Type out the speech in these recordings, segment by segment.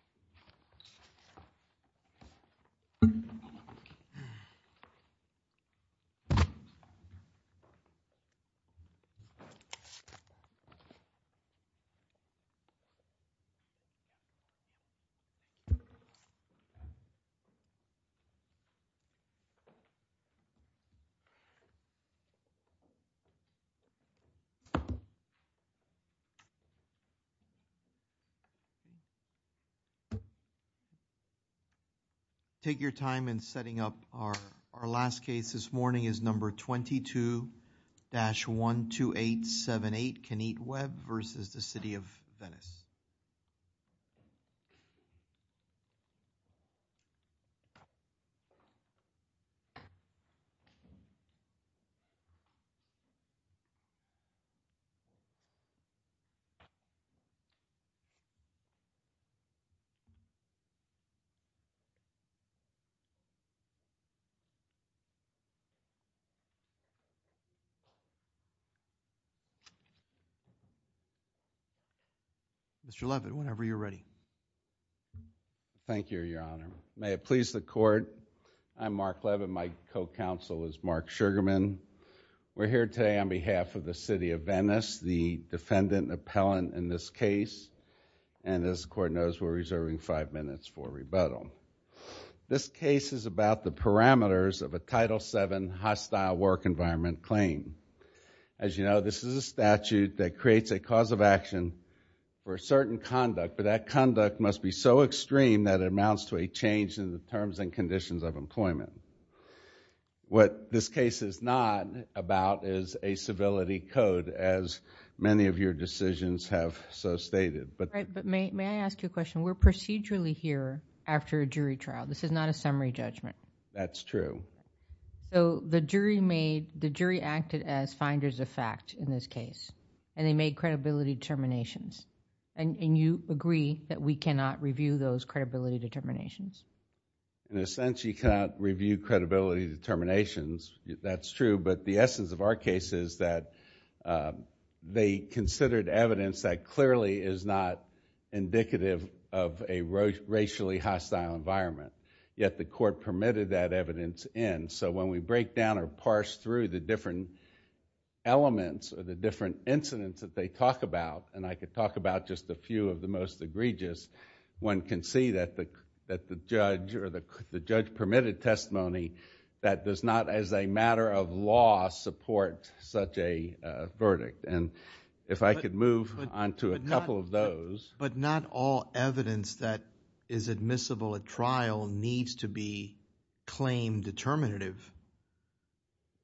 This is a video of the City of Venice, Florida. Take your time in setting up our our last case this morning is number 22-12878 Kenneth Webb versus the City of Venice. Mr. Leavitt, whenever you're ready. Thank you, Your Honor. May it please the Court, I'm Mark Leavitt, my co-counsel is Mark Sugarman. We're here today on behalf of the City of Venice, the defendant appellant in this case, and as the Court knows, we're reserving five minutes for rebuttal. This case is about the parameters of a Title VII hostile work environment claim. As you know, this is a statute that creates a cause of action for a certain conduct, but that conduct must be so extreme that it amounts to a change in the terms and conditions of employment. What this case is not about is a civility code, as many of your decisions have so stated. May I ask you a question? We're procedurally here after a jury trial. This is not a summary judgment. That's true. The jury acted as finders of fact in this case, and they made credibility determinations, and you agree that we cannot review those credibility determinations? In a sense, you cannot review credibility determinations, that's true, but the essence of our case is that they considered evidence that clearly is not indicative of a racially hostile environment, yet the Court permitted that evidence in. When we break down or parse through the different elements or the different incidents that they talk about, and I could talk about just a few of the most egregious, one can see that the judge permitted testimony that does not, as a matter of law, support such a verdict. If I could move on to a couple of those. But not all evidence that is admissible at trial needs to be claim determinative.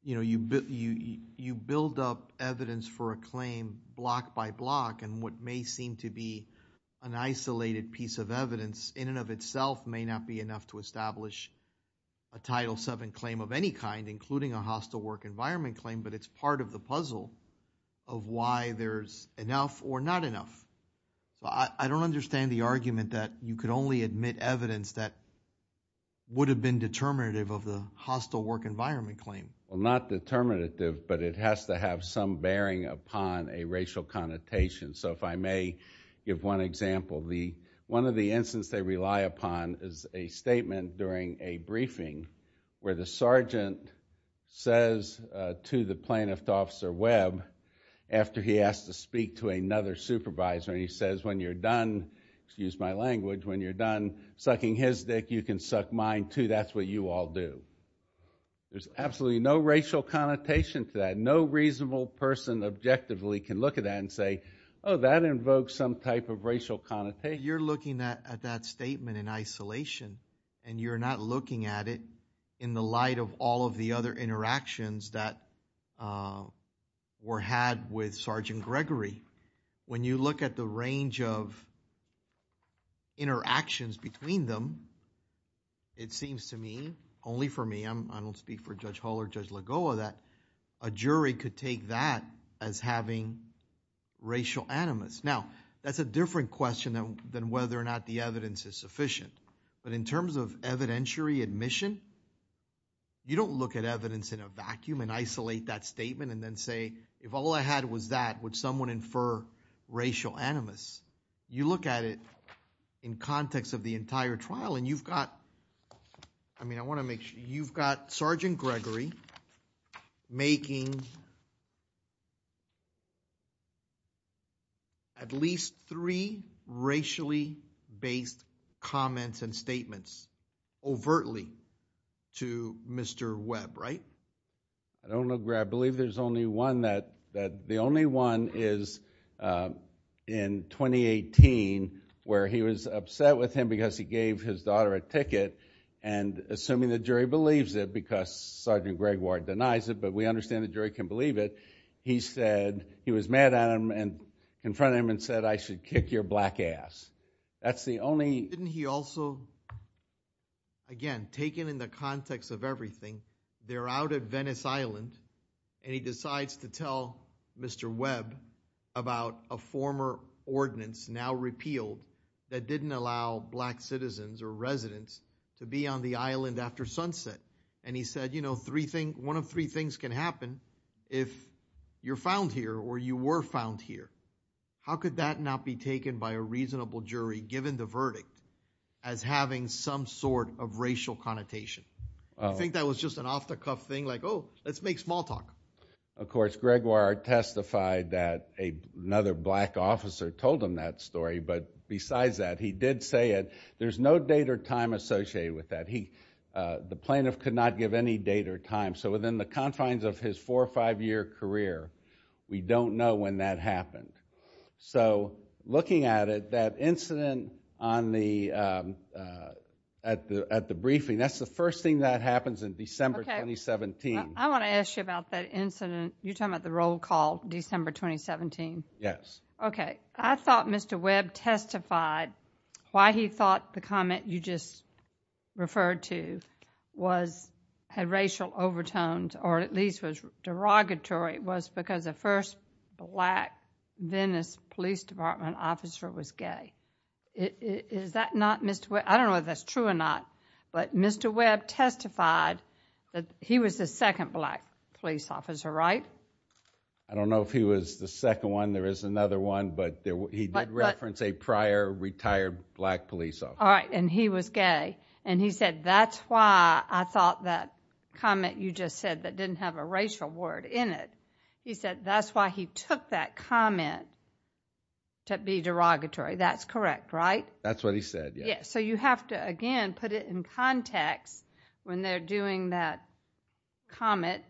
You build up evidence for a claim block by block, and what may seem to be an isolated piece of evidence, in and of itself may not be enough to establish a Title VII claim of any kind, including a hostile work environment claim, but it's part of the puzzle of why there's enough or not enough. I don't understand the argument that you could only admit evidence that would have been determinative of the hostile work environment claim. Not determinative, but it has to have some bearing upon a racial connotation. If I may give one example, one of the incidents they rely upon is a statement during a briefing where the sergeant says to the plaintiff, Officer Webb, after he has to speak to another supervisor, and he says, when you're done sucking his dick, you can suck mine, too. That's what you all do. There's absolutely no racial connotation to that. No reasonable person objectively can look at that and say, oh, that invokes some type of racial connotation. You're looking at that statement in isolation, and you're not looking at it in the light of all of the other interactions that were had with Sergeant Gregory. When you look at the range of interactions between them, it seems to me, only for me, I don't speak for Judge Hull or Judge Lagoa, that a jury could take that as having racial animus. Now, that's a different question than whether or not the evidence is sufficient. But in terms of evidentiary admission, you don't look at evidence in a vacuum and isolate that statement and then say, if all I had was that, would someone infer racial animus? You look at it in context of the entire trial, and you've got, I mean, I want to make sure, you've got Sergeant Gregory making at least three racially based comments and statements overtly to Mr. Webb, right? I don't know, I believe there's only one that, the only one is in 2018, where he was upset with him because he gave his daughter a ticket, and assuming the jury believes it, because Sergeant Gregoire denies it, but we understand the jury can believe it, he said, he was mad at him and confronted him and said, I should kick your black ass. Didn't he also, again, taken in the context of everything, they're out at Venice Island, and he decides to tell Mr. Webb about a former ordinance, now repealed, that didn't allow black citizens or residents to be on the island after sunset. And he said, you know, one of three things can happen if you're found here or you were found here. How could that not be taken by a reasonable jury, given the verdict, as having some sort of racial connotation? I think that was just an off-the-cuff thing, like, oh, let's make small talk. Of course, Gregoire testified that another black officer told him that story, but besides that, he did say it. There's no date or time associated with that. The plaintiff could not give any date or time. So within the confines of his four or five-year career, we don't know when that happened. So looking at it, that incident at the briefing, that's the first thing that happens in December 2017. I want to ask you about that incident. You're talking about the roll call, December 2017? Yes. Okay. I thought Mr. Webb testified why he thought the comment you just referred to had racial overtones, or at least was derogatory, was because the first black Venice Police Department officer was gay. Is that not Mr. Webb? I don't know if that's true or not, but Mr. Webb testified that he was the second black police officer, right? I don't know if he was the second one. There is another one, but he did reference a prior retired black police officer. All right. And he was gay. And he said that's why I thought that comment you just said that didn't have a racial word in it, he said that's why he took that comment to be derogatory. That's correct, right? That's what he said, yes. So you have to, again, put it in context when they're doing that comment,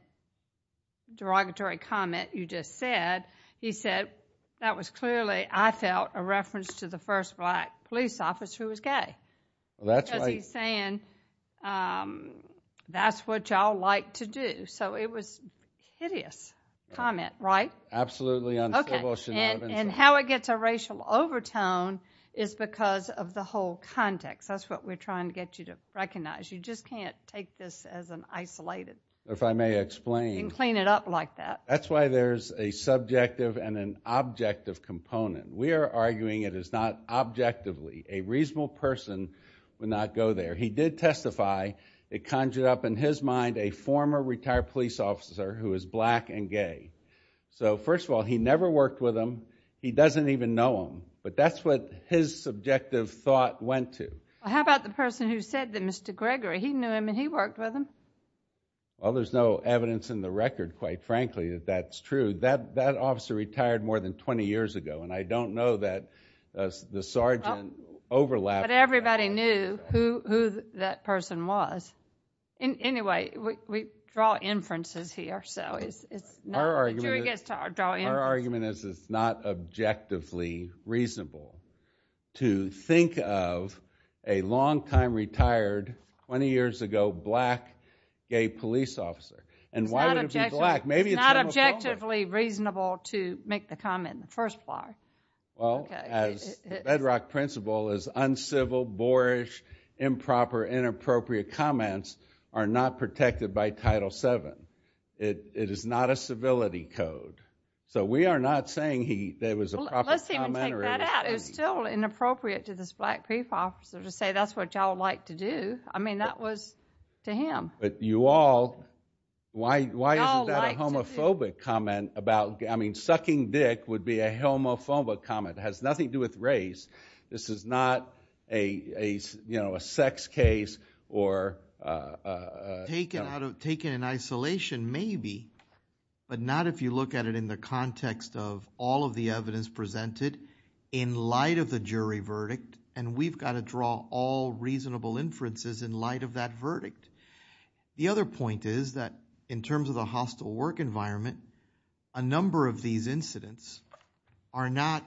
derogatory comment you just said. He said that was clearly, I felt, a reference to the first black police officer who was gay. That's right. Because he's saying that's what y'all like to do. So it was a hideous comment, right? Absolutely uncivil. Okay. And how it gets a racial overtone is because of the whole context. That's what we're trying to get you to recognize. You just can't take this as an isolated. If I may explain. And clean it up like that. That's why there's a subjective and an objective component. We are arguing it is not objectively. A reasonable person would not go there. He did testify it conjured up in his mind a former retired police officer who is black and gay. So, first of all, he never worked with him. He doesn't even know him. But that's what his subjective thought went to. How about the person who said that Mr. Gregory, he knew him and he worked with him. Well, there's no evidence in the record, quite frankly, that that's true. That officer retired more than 20 years ago. And I don't know that the sergeant overlapped that. But everybody knew who that person was. Anyway, we draw inferences here. Our argument is it's not objectively reasonable to think of a longtime retired, 20 years ago, black, gay police officer. And why would it be black? It's not objectively reasonable to make the comment in the first place. Well, as the bedrock principle is uncivil, boorish, improper, inappropriate comments are not protected by Title VII. It is not a civility code. So we are not saying he was a proper commenter. Let's even take that out. It's still inappropriate to this black police officer to say that's what y'all like to do. I mean, that was to him. But you all, why isn't that a homophobic comment? I mean, sucking dick would be a homophobic comment. It has nothing to do with race. This is not a sex case or... Taken in isolation, maybe. But not if you look at it in the context of all of the evidence presented in light of the jury verdict. And we've got to draw all reasonable inferences in light of that verdict. The other point is that in terms of the hostile work environment, a number of these incidents are not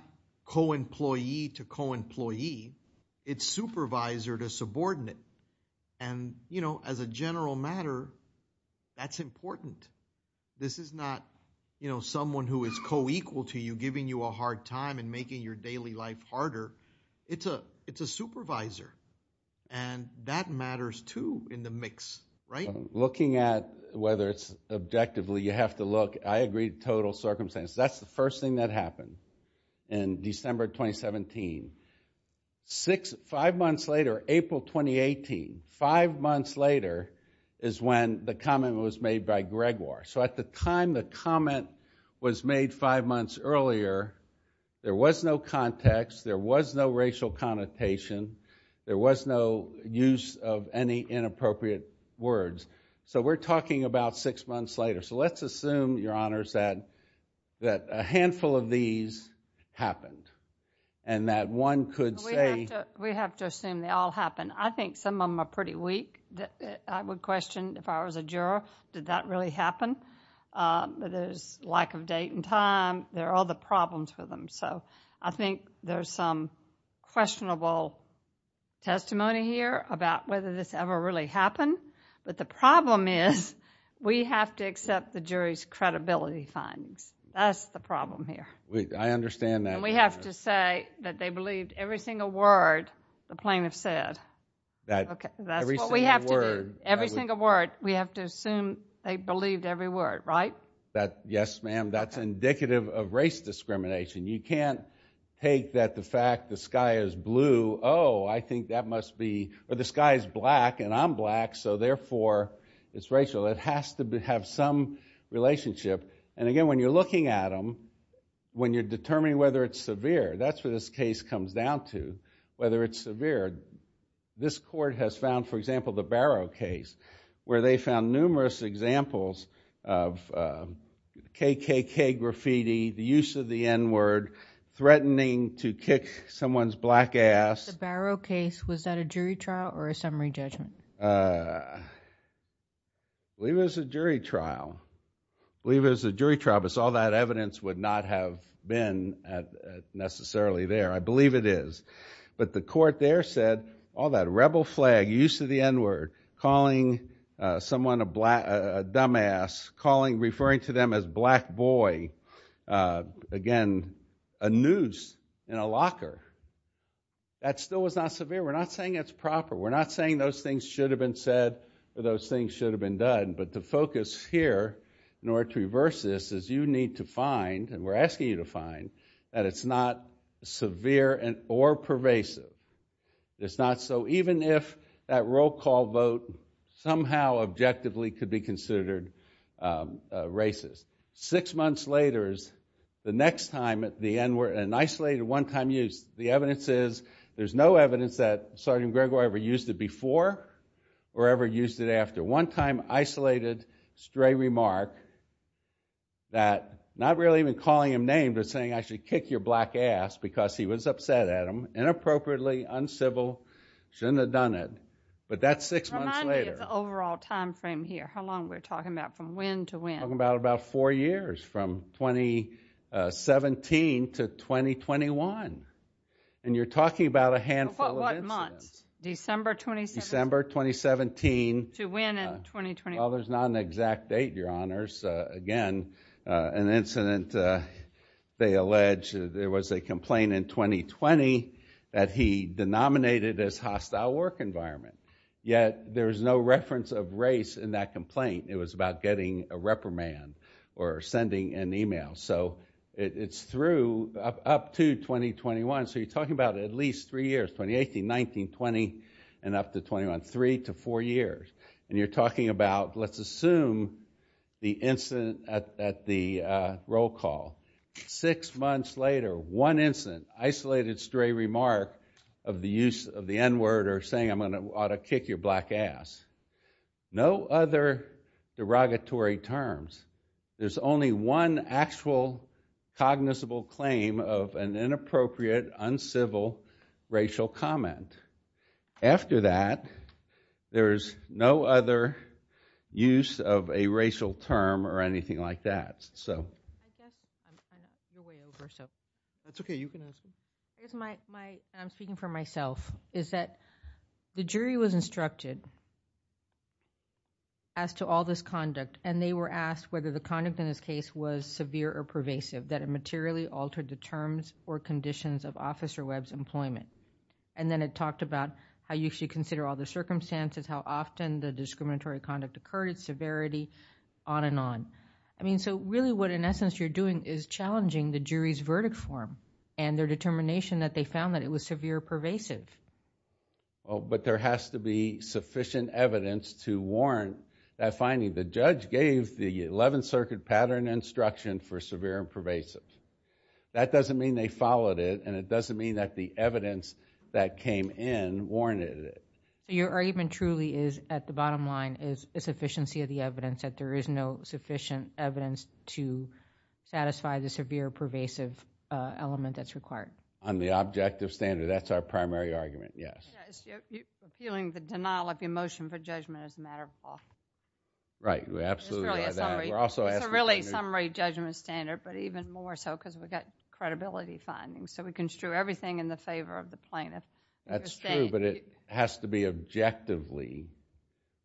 co-employee to co-employee. It's supervisor to subordinate. And, you know, as a general matter, that's important. This is not, you know, someone who is co-equal to you, giving you a hard time and making your daily life harder. It's a supervisor. And that matters, too, in the mix, right? Looking at whether it's objectively you have to look, I agree with total circumstance. That's the first thing that happened in December 2017. Five months later, April 2018, five months later is when the comment was made by Gregoire. So at the time the comment was made five months earlier, there was no context, there was no racial connotation, there was no use of any inappropriate words. So we're talking about six months later. So let's assume, Your Honors, that a handful of these happened and that one could say... We have to assume they all happened. I think some of them are pretty weak. I would question, if I was a juror, did that really happen? There's lack of date and time. There are other problems with them. So I think there's some questionable testimony here about whether this ever really happened. But the problem is we have to accept the jury's credibility findings. That's the problem here. I understand that. And we have to say that they believed every single word the plaintiff said. That's what we have to do. Every single word. We have to assume they believed every word, right? Yes, ma'am, that's indicative of race discrimination. You can't take the fact that the sky is blue, oh, I think that must be... Or the sky is black, and I'm black, so therefore it's racial. It has to have some relationship. And again, when you're looking at them, when you're determining whether it's severe, that's what this case comes down to, whether it's severe. This court has found, for example, the Barrow case, where they found numerous examples of KKK graffiti, the use of the N-word, threatening to kick someone's black ass. The Barrow case, was that a jury trial or a summary judgment? I believe it was a jury trial. I believe it was a jury trial, but all that evidence would not have been necessarily there. I believe it is. But the court there said all that rebel flag, use of the N-word, calling someone a dumbass, referring to them as black boy, again, a noose in a locker, that still was not severe. We're not saying it's proper. We're not saying those things should have been said or those things should have been done. But the focus here, in order to reverse this, is you need to find, and we're asking you to find, that it's not severe or pervasive. It's not so, even if that roll call vote somehow objectively could be considered racist. Six months later is the next time at the N-word, an isolated, one-time use. The evidence is, there's no evidence that Sergeant Gregoire ever used it before or ever used it after. One-time, isolated, stray remark that, not really even calling him names, but saying, I should kick your black ass, because he was upset at him. Inappropriately, uncivil, shouldn't have done it. But that's six months later. Remind me of the overall time frame here, how long we're talking about, from when to when? We're talking about about four years, from 2017 to 2021. And you're talking about a handful of incidents. What months? December 2017? December 2017. To when in 2021? Well, there's not an exact date, Your Honors. Again, an incident. They allege there was a complaint in 2020 that he denominated as hostile work environment. Yet, there is no reference of race in that complaint. It was about getting a reprimand or sending an email. So it's through up to 2021. So you're talking about at least three years, 2018, 19, 20, and up to 21, three to four years. And you're talking about, let's assume, the incident at the roll call. Six months later, one incident. Isolated, stray remark of the use of the N-word or saying I'm going to kick your black ass. No other derogatory terms. There's only one actual cognizable claim of an inappropriate, uncivil, racial comment. After that, there's no other use of a racial term or anything like that. I'm speaking for myself. The jury was instructed as to all this conduct, and they were asked whether the conduct in this case was severe or pervasive, that it materially altered the terms or conditions of Officer Webb's employment. And then it talked about how you should consider all the circumstances, how often the discriminatory conduct occurred, severity, on and on. So really what, in essence, you're doing is challenging the jury's verdict form and their determination that they found that it was severe or pervasive. But there has to be sufficient evidence to warrant that finding. The judge gave the 11th Circuit pattern instruction for severe and pervasive. That doesn't mean they followed it, and it doesn't mean that the evidence that came in warranted it. Your argument truly is, at the bottom line, is a sufficiency of the evidence, that there is no sufficient evidence to satisfy the severe or pervasive element that's required. On the objective standard, that's our primary argument, yes. You're feeling the denial of emotion for judgment is a matter of law. Right, absolutely. It's really a summary judgment standard, but even more so because we've got credibility findings, so we can strew everything in the favor of the plaintiff. That's true, but it has to be objectively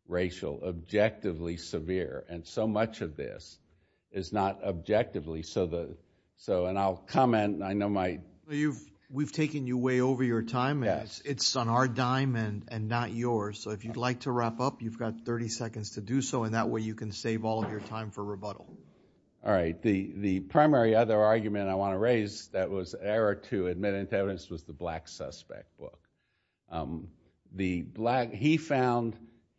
racial, objectively severe. And so much of this is not objectively. And I'll comment. We've taken you way over your time, and it's on our dime and not yours. So if you'd like to wrap up, you've got 30 seconds to do so, and that way you can save all of your time for rebuttal. All right, the primary other argument I want to raise that was an error to admit into evidence was the Black Suspect book.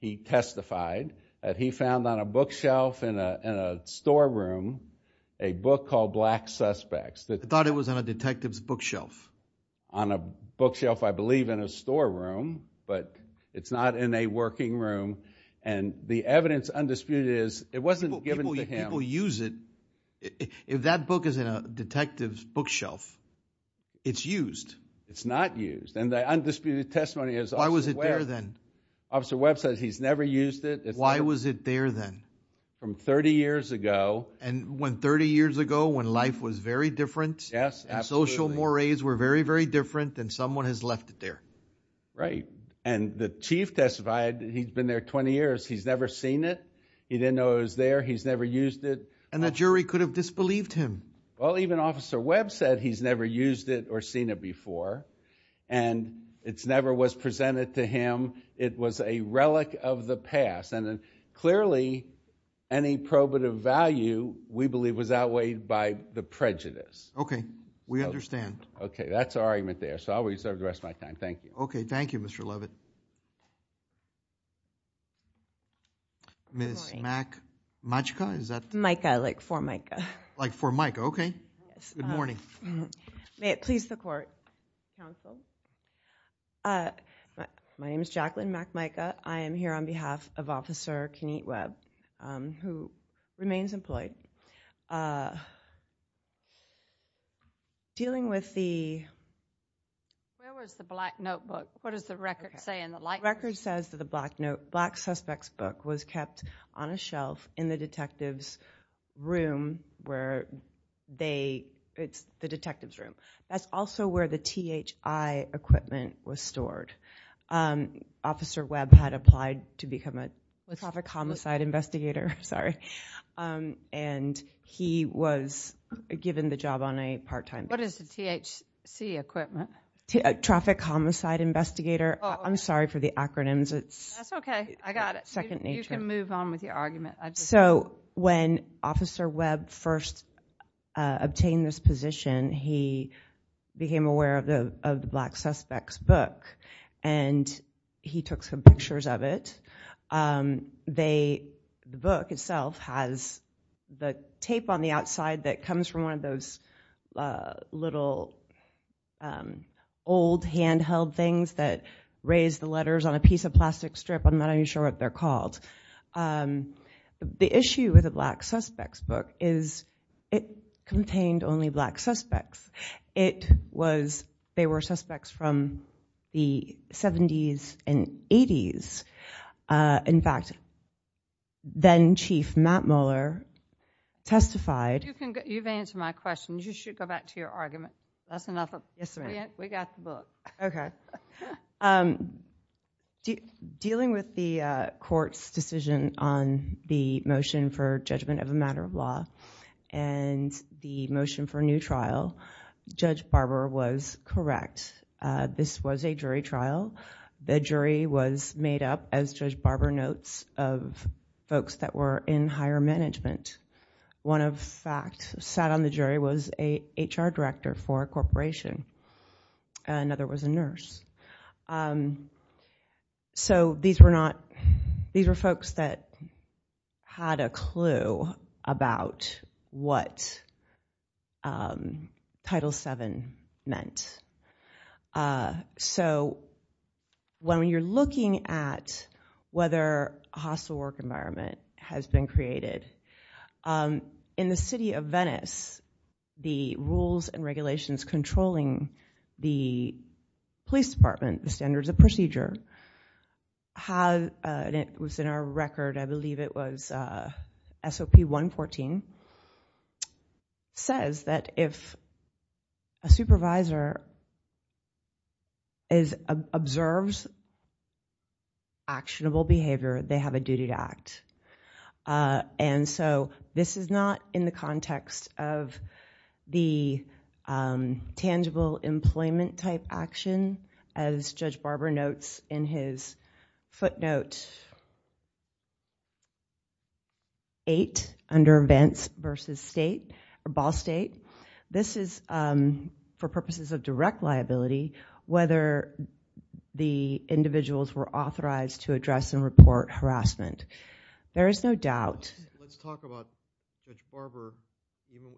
He testified that he found on a bookshelf in a storeroom a book called Black Suspects. I thought it was on a detective's bookshelf. On a bookshelf, I believe, in a storeroom, but it's not in a working room. And the evidence undisputed is it wasn't given to him. People use it. If that book is in a detective's bookshelf, it's used. It's not used, and the undisputed testimony is... Why was it there then? Officer Webb says he's never used it. Why was it there then? From 30 years ago. And when 30 years ago, when life was very different... Yes, absolutely. ...and social mores were very, very different, then someone has left it there. Right, and the chief testified he'd been there 20 years. He's never seen it. He didn't know it was there. He's never used it. And the jury could have disbelieved him. Well, even Officer Webb said he's never used it or seen it before, and it never was presented to him. It was a relic of the past, and clearly any probative value, we believe, was outweighed by the prejudice. Okay, we understand. Okay, that's our argument there, so I'll reserve the rest of my time. Thank you. Okay, thank you, Mr. Levitt. Good morning. Ms. MacMajka, is that...? Micah, like for Micah. Like for Micah, okay. Yes. Good morning. May it please the court, counsel. My name is Jacqueline MacMajka. I am here on behalf of Officer Kenneth Webb, who remains employed. Dealing with the... Where was the black notebook? What does the record say? The record says that the black suspect's book was kept on a shelf in the detective's room where they... It's the detective's room. That's also where the THI equipment was stored. Officer Webb had applied to become a traffic homicide investigator, and he was given the job on a part-time basis. What is the THC equipment? Traffic homicide investigator. I'm sorry for the acronyms. That's okay. I got it. You can move on with your argument. So when Officer Webb first obtained this position, he became aware of the black suspect's book, and he took some pictures of it. The book itself has the tape on the outside that comes from one of those little old handheld things that raise the letters on a piece of plastic strip. I'm not even sure what they're called. The issue with the black suspect's book is it contained only black suspects. They were suspects from the 70s and 80s. In fact, then-Chief Matt Mueller testified. You've answered my question. You should go back to your argument. That's enough of this. We got the book. Okay. Dealing with the court's decision on the motion for judgment of a matter of law and the motion for a new trial, Judge Barber was correct. This was a jury trial. The jury was made up, as Judge Barber notes, of folks that were in higher management. One, in fact, sat on the jury was an HR director for a corporation. Another was a nurse. These were folks that had a clue about what Title VII meant. When you're looking at whether a hostile work environment has been created, in the city of Venice, the rules and regulations controlling the police department, the standards of procedure, it was in our record, I believe it was SOP 114, says that if a supervisor observes actionable behavior, they have a duty to act. This is not in the context of the tangible employment type action, as Judge Barber notes in his footnote 8, under events versus state, or ball state. This is for purposes of direct liability, whether the individuals were authorized to address and report harassment. There is no doubt. Let's talk about Judge Barber,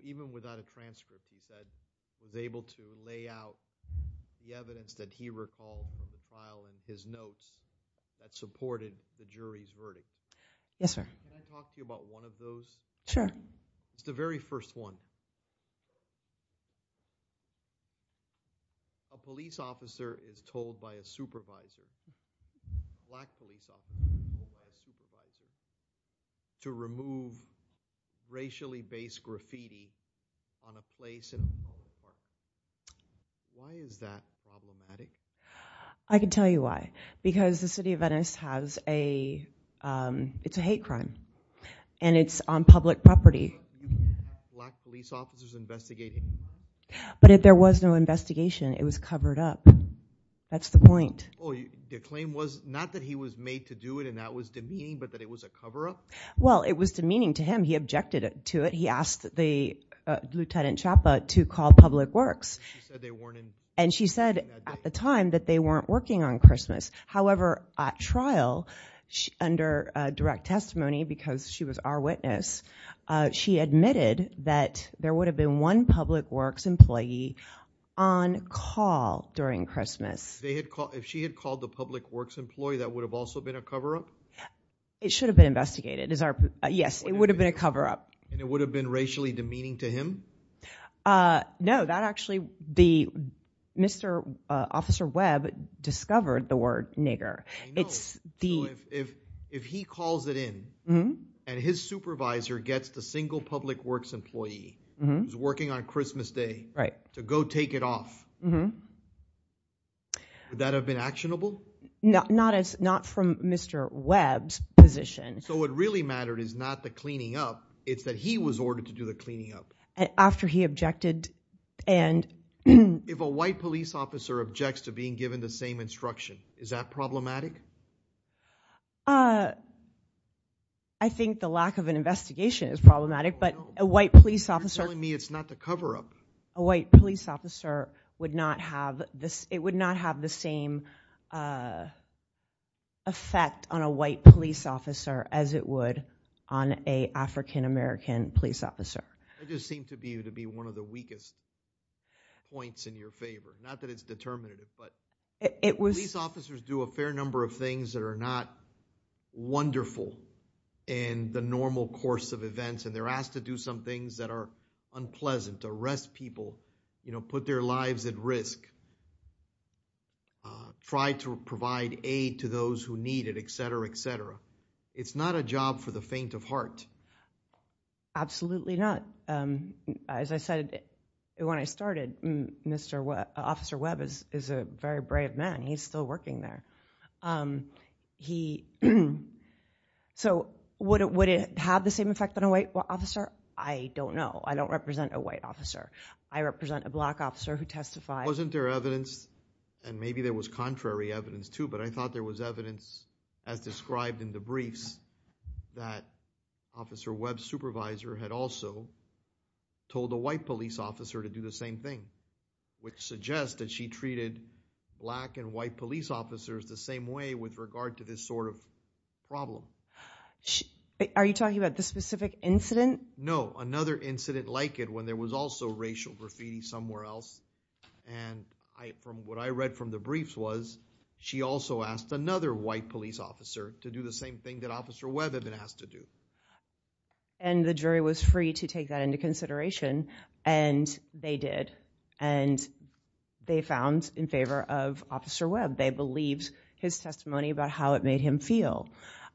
even without a transfer, she said, was able to lay out the evidence that he recalled in the file in his notes that supported the jury's verdict. Yes, sir. Can I talk to you about one of those? Sure. It's the very first one. A police officer is told by a supervisor, a black police officer by a supervisor, to remove racially based graffiti on a place in a public park. Why is that problematic? I can tell you why. Because the city of Venice has a, it's a hate crime. And it's on public property. Black police officers investigating. But if there was no investigation, it was covered up. That's the point. Oh, your claim was not that he was made to do it and that was demeaning, but that it was a cover up? Well, it was demeaning to him. He objected to it. He asked the Lieutenant Chapa to call public works. She said they weren't in. And she said at the time that they weren't working on Christmas. However, at trial, under direct testimony, because she was our witness, she admitted that there would have been one public works employee on call during Christmas. If she had called the public works employee, that would have also been a cover up? It should have been investigated. Yes, it would have been a cover up. And it would have been racially demeaning to him? No, that actually, Mr. Officer Webb discovered the word nigger. If he calls it in and his supervisor gets the single public works employee who's working on Christmas Day to go take it off, would that have been actionable? Not from Mr. Webb's position. So what really mattered is not the cleaning up. It's that he was ordered to do the cleaning up. After he objected. If a white police officer objects to being given the same instruction, is that problematic? I think the lack of an investigation is problematic, but a white police officer... You're telling me it's not the cover up. A white police officer would not have the same effect on a white police officer as it would on an African American police officer. That just seemed to be one of the weakest points in your favor. Not that it's determinative, but police officers do a fair number of things that are not wonderful in the normal course of events. And they're asked to do some things that are unpleasant, arrest people, put their lives at risk, try to provide aid to those who need it, etc., etc. It's not a job for the faint of heart. Absolutely not. As I said when I started, Officer Webb is a very brave man. He's still working there. So would it have the same effect on a white officer? I don't know. I don't represent a white officer. I represent a black officer who testified. Wasn't there evidence, and maybe there was contrary evidence too, but I thought there was evidence as described in the briefs that Officer Webb's supervisor had also told a white police officer to do the same thing, which suggests that she treated black and white police officers the same way with regard to this sort of problem. Are you talking about this specific incident? No, another incident like it when there was also racial graffiti somewhere else. What I read from the briefs was she also asked another white police officer to do the same thing that Officer Webb had been asked to do. And the jury was free to take that into consideration, and they did. And they found in favor of Officer Webb. They believed his testimony about how it made him feel.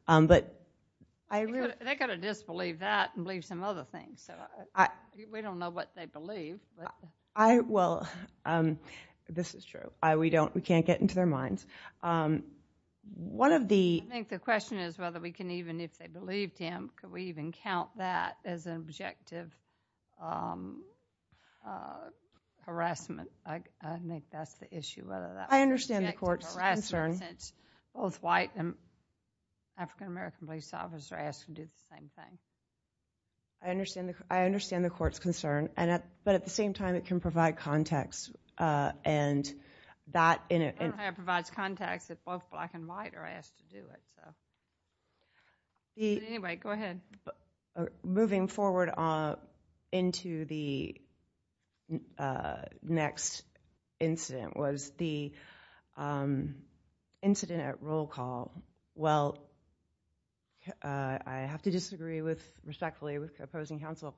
They've got to disbelieve that and believe some other things. We don't know what they believe. Well, this is true. We can't get into their minds. I think the question is whether we can even, if they believed him, could we even count that as objective harassment. I think that's the issue. I understand the court's concern. Both white and African-American police officers are asked to do the same thing. I understand the court's concern. But at the same time, it can provide context. I don't know how it provides context if both black and white are asked to do it. Anyway, go ahead. Moving forward into the next incident was the incident at roll call. Well, I have to disagree respectfully with opposing counsel.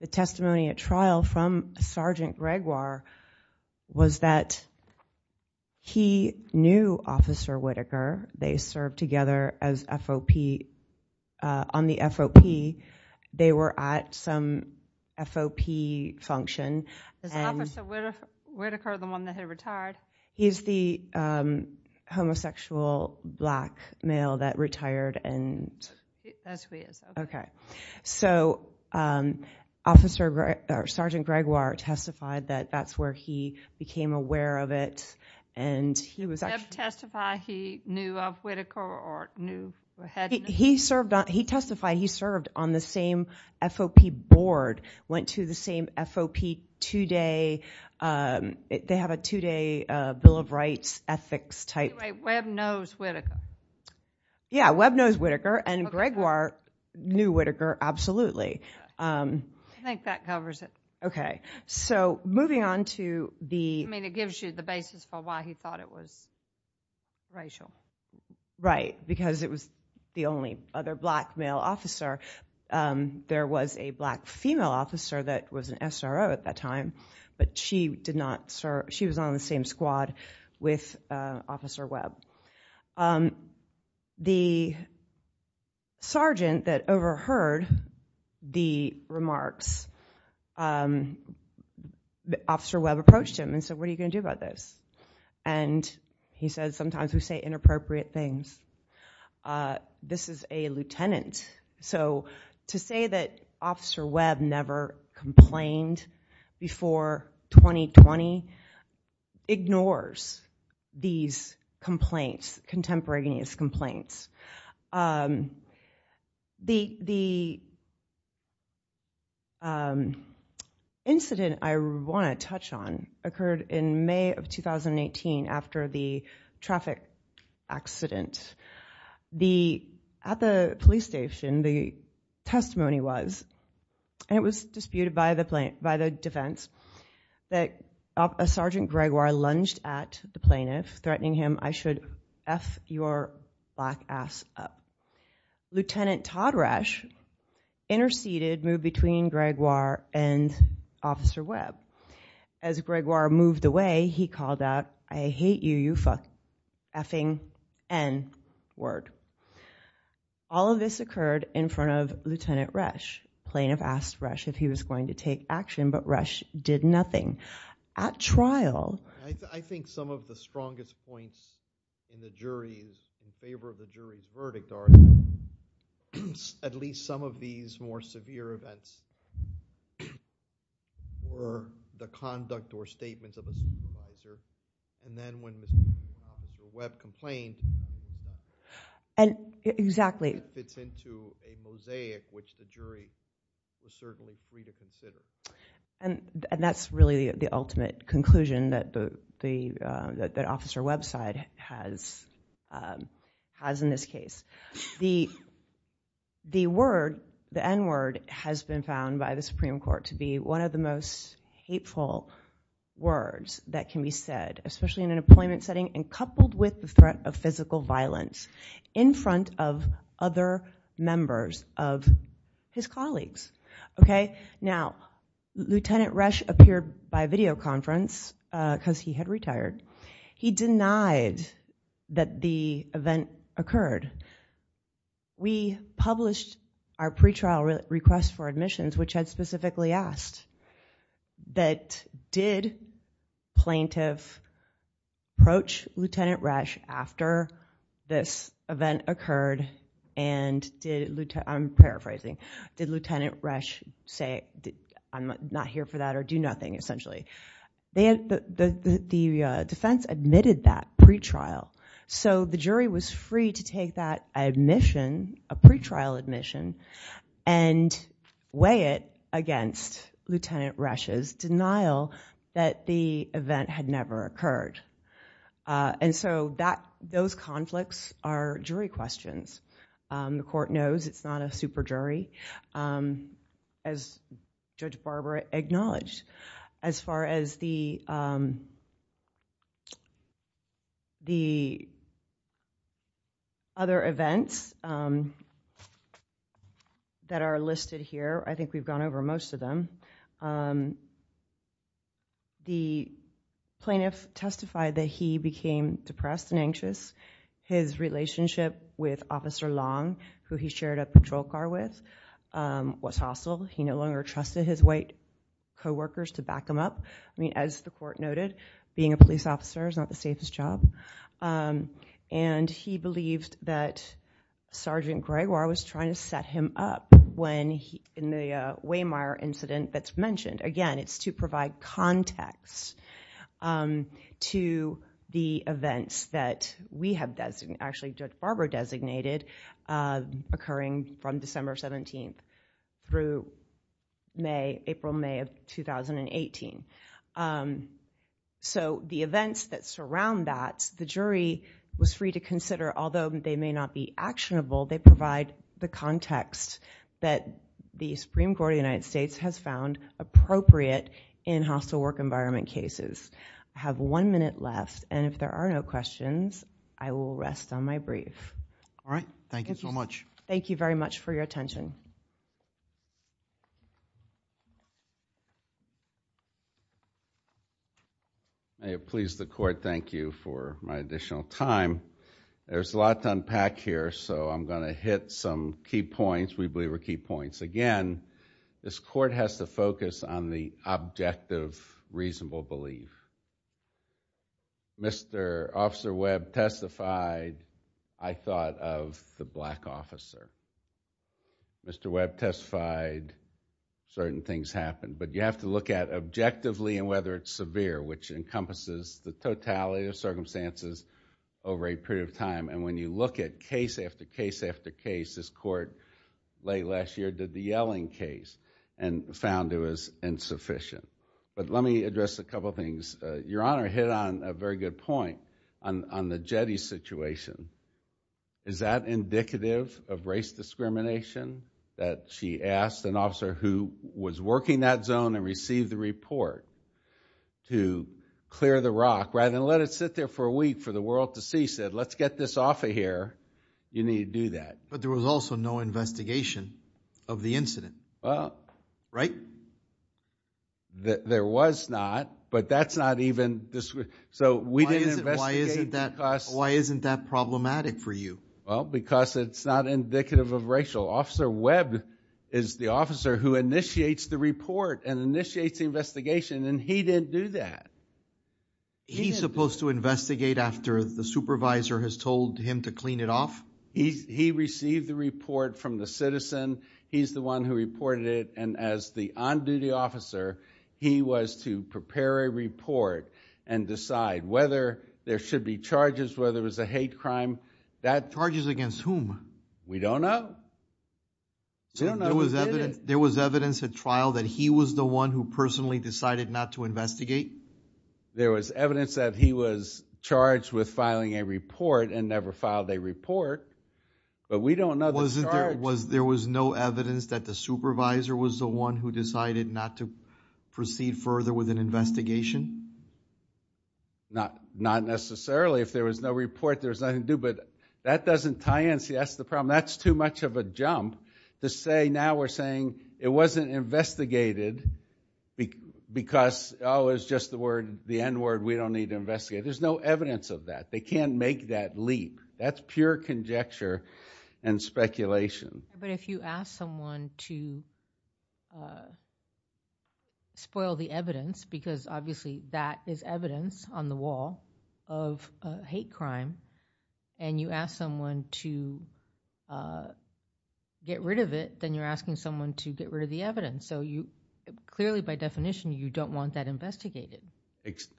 The testimony at trial from Sergeant Gregoire was that he knew Officer Whitaker. They served together on the FOP. They were at some FOP function. Is Officer Whitaker the one that had retired? He's the homosexual black male that retired. That's who he is. Okay. So, Sergeant Gregoire testified that that's where he became aware of it. Did he testify he knew of Whitaker or knew or had— He testified he served on the same FOP board, went to the same FOP two-day— They have a two-day Bill of Rights ethics type— Anyway, Webb knows Whitaker. Yeah, Webb knows Whitaker and Gregoire knew Whitaker, absolutely. I think that covers it. Okay. So, moving on to the— I mean, it gives you the basis for why he thought it was racial. Right, because it was the only other black male officer. There was a black female officer that was an SRO at that time. But she was on the same squad with Officer Webb. The sergeant that overheard the remarks, Officer Webb approached him and said, What are you going to do about this? And he said, Sometimes we say inappropriate things. This is a lieutenant. So, to say that Officer Webb never complained before 2020 ignores these complaints, contemporaneous complaints. The incident I want to touch on occurred in May of 2018 after the traffic accident. At the police station, the testimony was, and it was disputed by the defense, that a Sergeant Gregoire lunged at the plaintiff, threatening him, I should F your black ass up. Lieutenant Todrash interceded, moved between Gregoire and Officer Webb. As Gregoire moved away, he called out, I hate you, you fucking N word. All of this occurred in front of Lieutenant Resch. The plaintiff asked Resch if he was going to take action, but Resch did nothing. At trial— I think some of the strongest points in the jury's, in favor of the jury's verdict are at least some of these more severe events were the conduct or statements of a supervisor, and then when this Officer Webb complained, it fits into a mosaic which the jury is certainly free to consider. That's really the ultimate conclusion that Officer Webb's side has in this case. The N word has been found by the Supreme Court to be one of the most hateful words that can be said, especially in an employment setting and coupled with the threat of physical violence in front of other members of his colleagues. Now, Lieutenant Resch appeared by videoconference because he had retired. He denied that the event occurred. We published our pretrial request for admissions, which had specifically asked that did plaintiff approach Lieutenant Resch after this event occurred and did— did Lieutenant Resch say, I'm not here for that or do nothing, essentially. The defense admitted that pretrial, so the jury was free to take that admission, a pretrial admission, and weigh it against Lieutenant Resch's denial that the event had never occurred. Those conflicts are jury questions. The court knows it's not a super jury, as Judge Barbara acknowledged. As far as the other events that are listed here, I think we've gone over most of them. The plaintiff testified that he became depressed and anxious. His relationship with Officer Long, who he shared a patrol car with, was hostile. He no longer trusted his white co-workers to back him up. I mean, as the court noted, being a police officer is not the safest job. And he believed that Sergeant Gregoire was trying to set him up when— Again, it's to provide context to the events that we have designated, actually Judge Barbara designated, occurring from December 17th through April, May of 2018. So the events that surround that, the jury was free to consider, although they may not be actionable, they provide the context that the Supreme Court of the United States has found appropriate in hostile work environment cases. I have one minute left, and if there are no questions, I will rest on my brief. All right. Thank you so much. Thank you very much for your attention. May it please the court, thank you for my additional time. There's a lot to unpack here, so I'm going to hit some key points, we believe are key points. Again, this court has to focus on the objective, reasonable belief. Mr. Officer Webb testified, I thought of the black officer. Mr. Webb testified, certain things happen. But you have to look at objectively and whether it's severe, which encompasses the totality of circumstances over a period of time. And when you look at case after case after case, this court late last year did the Yelling case and found it was insufficient. But let me address a couple of things. Your Honor hit on a very good point on the Jetty situation. Is that indicative of race discrimination, that she asked an officer who was working that zone and received the report to clear the rock rather than let it sit there for a week for the world to see, said let's get this off of here, you need to do that. But there was also no investigation of the incident, right? There was not, but that's not even, so we didn't investigate. Why isn't that problematic for you? Well, because it's not indicative of racial. Officer Webb is the officer who initiates the report and initiates the investigation, and he didn't do that. He's supposed to investigate after the supervisor has told him to clean it off? He received the report from the citizen. He's the one who reported it, and as the on-duty officer, he was to prepare a report and decide whether there should be charges, whether it was a hate crime. Charges against whom? We don't know. There was evidence at trial that he was the one who personally decided not to investigate? There was evidence that he was charged with filing a report and never filed a report, but we don't know the charge. There was no evidence that the supervisor was the one who decided not to proceed further with an investigation? Not necessarily. If there was no report, there was nothing to do, but that doesn't tie in. See, that's the problem. That's too much of a jump to say now we're saying it wasn't investigated because, oh, it was just the end word, we don't need to investigate. There's no evidence of that. They can't make that leap. That's pure conjecture and speculation. But if you ask someone to spoil the evidence, because obviously that is evidence on the wall of a hate crime, and you ask someone to get rid of it, then you're asking someone to get rid of the evidence. So clearly, by definition, you don't want that investigated.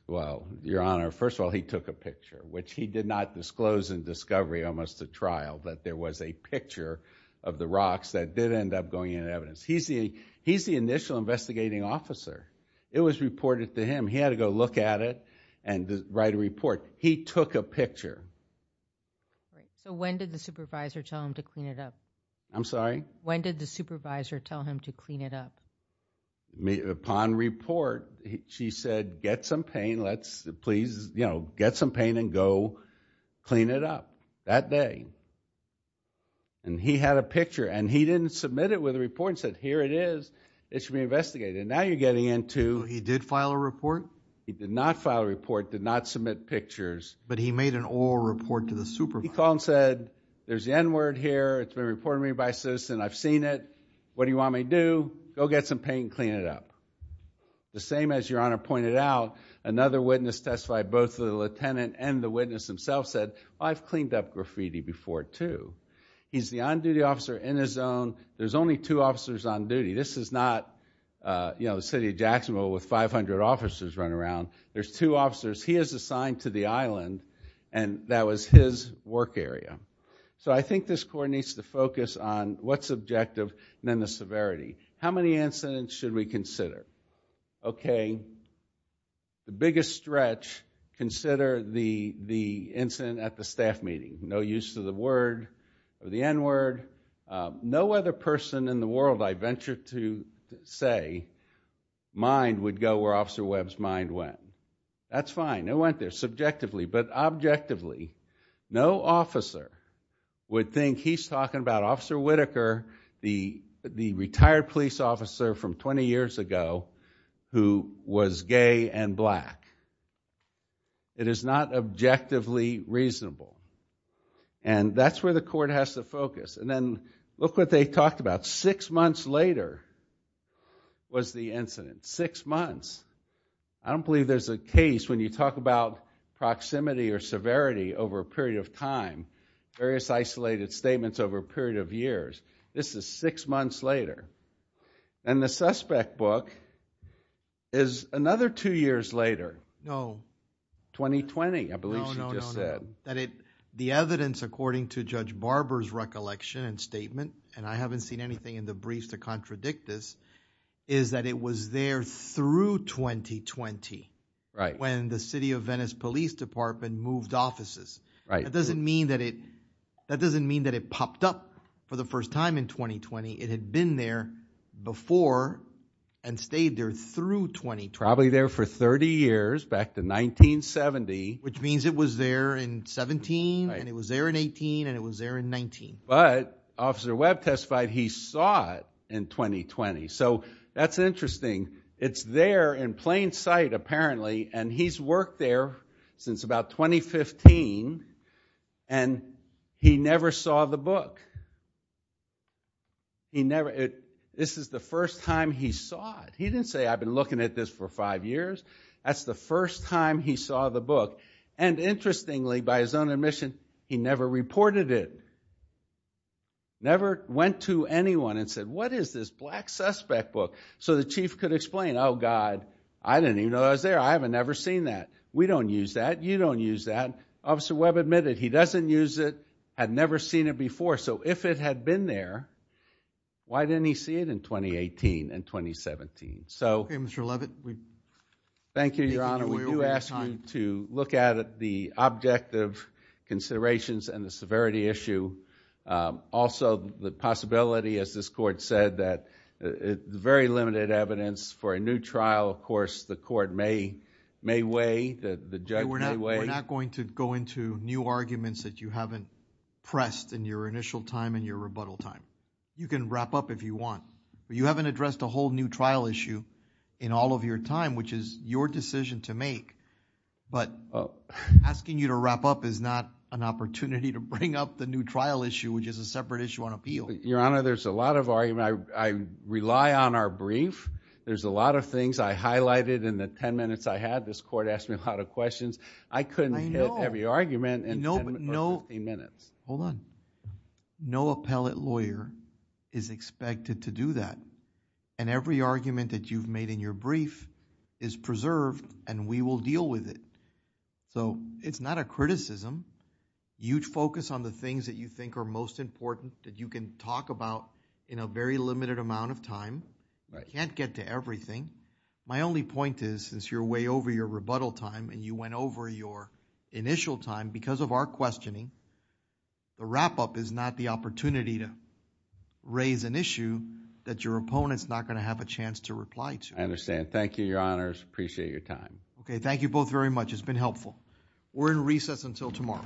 Well, Your Honor, first of all, he took a picture, which he did not disclose in discovery, almost at trial, that there was a picture of the rocks that did end up going in evidence. He's the initial investigating officer. It was reported to him. He had to go look at it and write a report. He took a picture. So when did the supervisor tell him to clean it up? I'm sorry? When did the supervisor tell him to clean it up? Upon report, she said, get some paint and go clean it up. That day. And he had a picture. And he didn't submit it with a report. He said, here it is. It should be investigated. And now you're getting into... He did file a report? He did not file a report. Did not submit pictures. But he made an oral report to the supervisor. He called and said, there's the end word here. It's been reported to me by a citizen. I've seen it. What do you want me to do? Go get some paint and clean it up. The same as Your Honor pointed out, another witness testified. Both the lieutenant and the witness themselves said, I've cleaned up graffiti before, too. He's the on-duty officer in his own. There's only two officers on duty. This is not the city of Jacksonville with 500 officers running around. There's two officers. He is assigned to the island. And that was his work area. So I think this court needs to focus on what's objective and then the severity. How many incidents should we consider? Okay. The biggest stretch, consider the incident at the staff meeting. No use to the word, the end word. No other person in the world, I venture to say, mind would go where Officer Webb's mind went. That's fine. It went there subjectively. But objectively, no officer would think he's talking about Officer Whitaker, the retired police officer from 20 years ago who was gay and black. It is not objectively reasonable. And that's where the court has to focus. And then look what they talked about. Six months later was the incident. Six months. I don't believe there's a case when you talk about proximity or severity over a period of time, various isolated statements over a period of years. This is six months later. And the suspect book is another two years later. No. 2020, I believe she just said. No, no, no. The evidence according to Judge Barber's recollection and statement, and I haven't seen anything in the briefs to contradict this, is that it was there through 2020. Right. When the City of Venice Police Department moved offices. Right. That doesn't mean that it popped up for the first time in 2020. It had been there before and stayed there through 2020. Probably there for 30 years back to 1970. Which means it was there in 17 and it was there in 18 and it was there in 19. But Officer Webb testified he saw it in 2020. So that's interesting. It's there in plain sight apparently. And he's worked there since about 2015. And he never saw the book. He never. This is the first time he saw it. He didn't say, I've been looking at this for five years. That's the first time he saw the book. And interestingly, by his own admission, he never reported it. Never went to anyone and said, what is this black suspect book? So the chief could explain, oh, God, I didn't even know I was there. I have never seen that. We don't use that. You don't use that. Officer Webb admitted he doesn't use it. Had never seen it before. So if it had been there, why didn't he see it in 2018 and 2017? OK, Mr. Levitt. Thank you, Your Honor. We do ask you to look at the objective considerations and the severity issue. Also, the possibility, as this court said, that very limited evidence for a new trial. Of course, the court may weigh, the judge may weigh. We're not going to go into new arguments that you haven't pressed in your initial time and your rebuttal time. You can wrap up if you want. You haven't addressed a whole new trial issue in all of your time, which is your decision to make. But asking you to wrap up is not an opportunity to bring up the new trial issue, which is a separate issue on appeal. Your Honor, there's a lot of argument. I rely on our brief. There's a lot of things I highlighted in the 10 minutes I had. This court asked me a lot of questions. I couldn't hit every argument in 10 or 15 minutes. Hold on. No appellate lawyer is expected to do that. And every argument that you've made in your brief is preserved, and we will deal with it. So it's not a criticism. You focus on the things that you think are most important, that you can talk about in a very limited amount of time. You can't get to everything. My only point is, since you're way over your rebuttal time and you went over your initial time, because of our questioning, the wrap-up is not the opportunity to raise an issue that your opponent is not going to have a chance to reply to. I understand. Thank you, Your Honors. I appreciate your time. Okay. Thank you both very much. It's been helpful. We're in recess until tomorrow. All rise.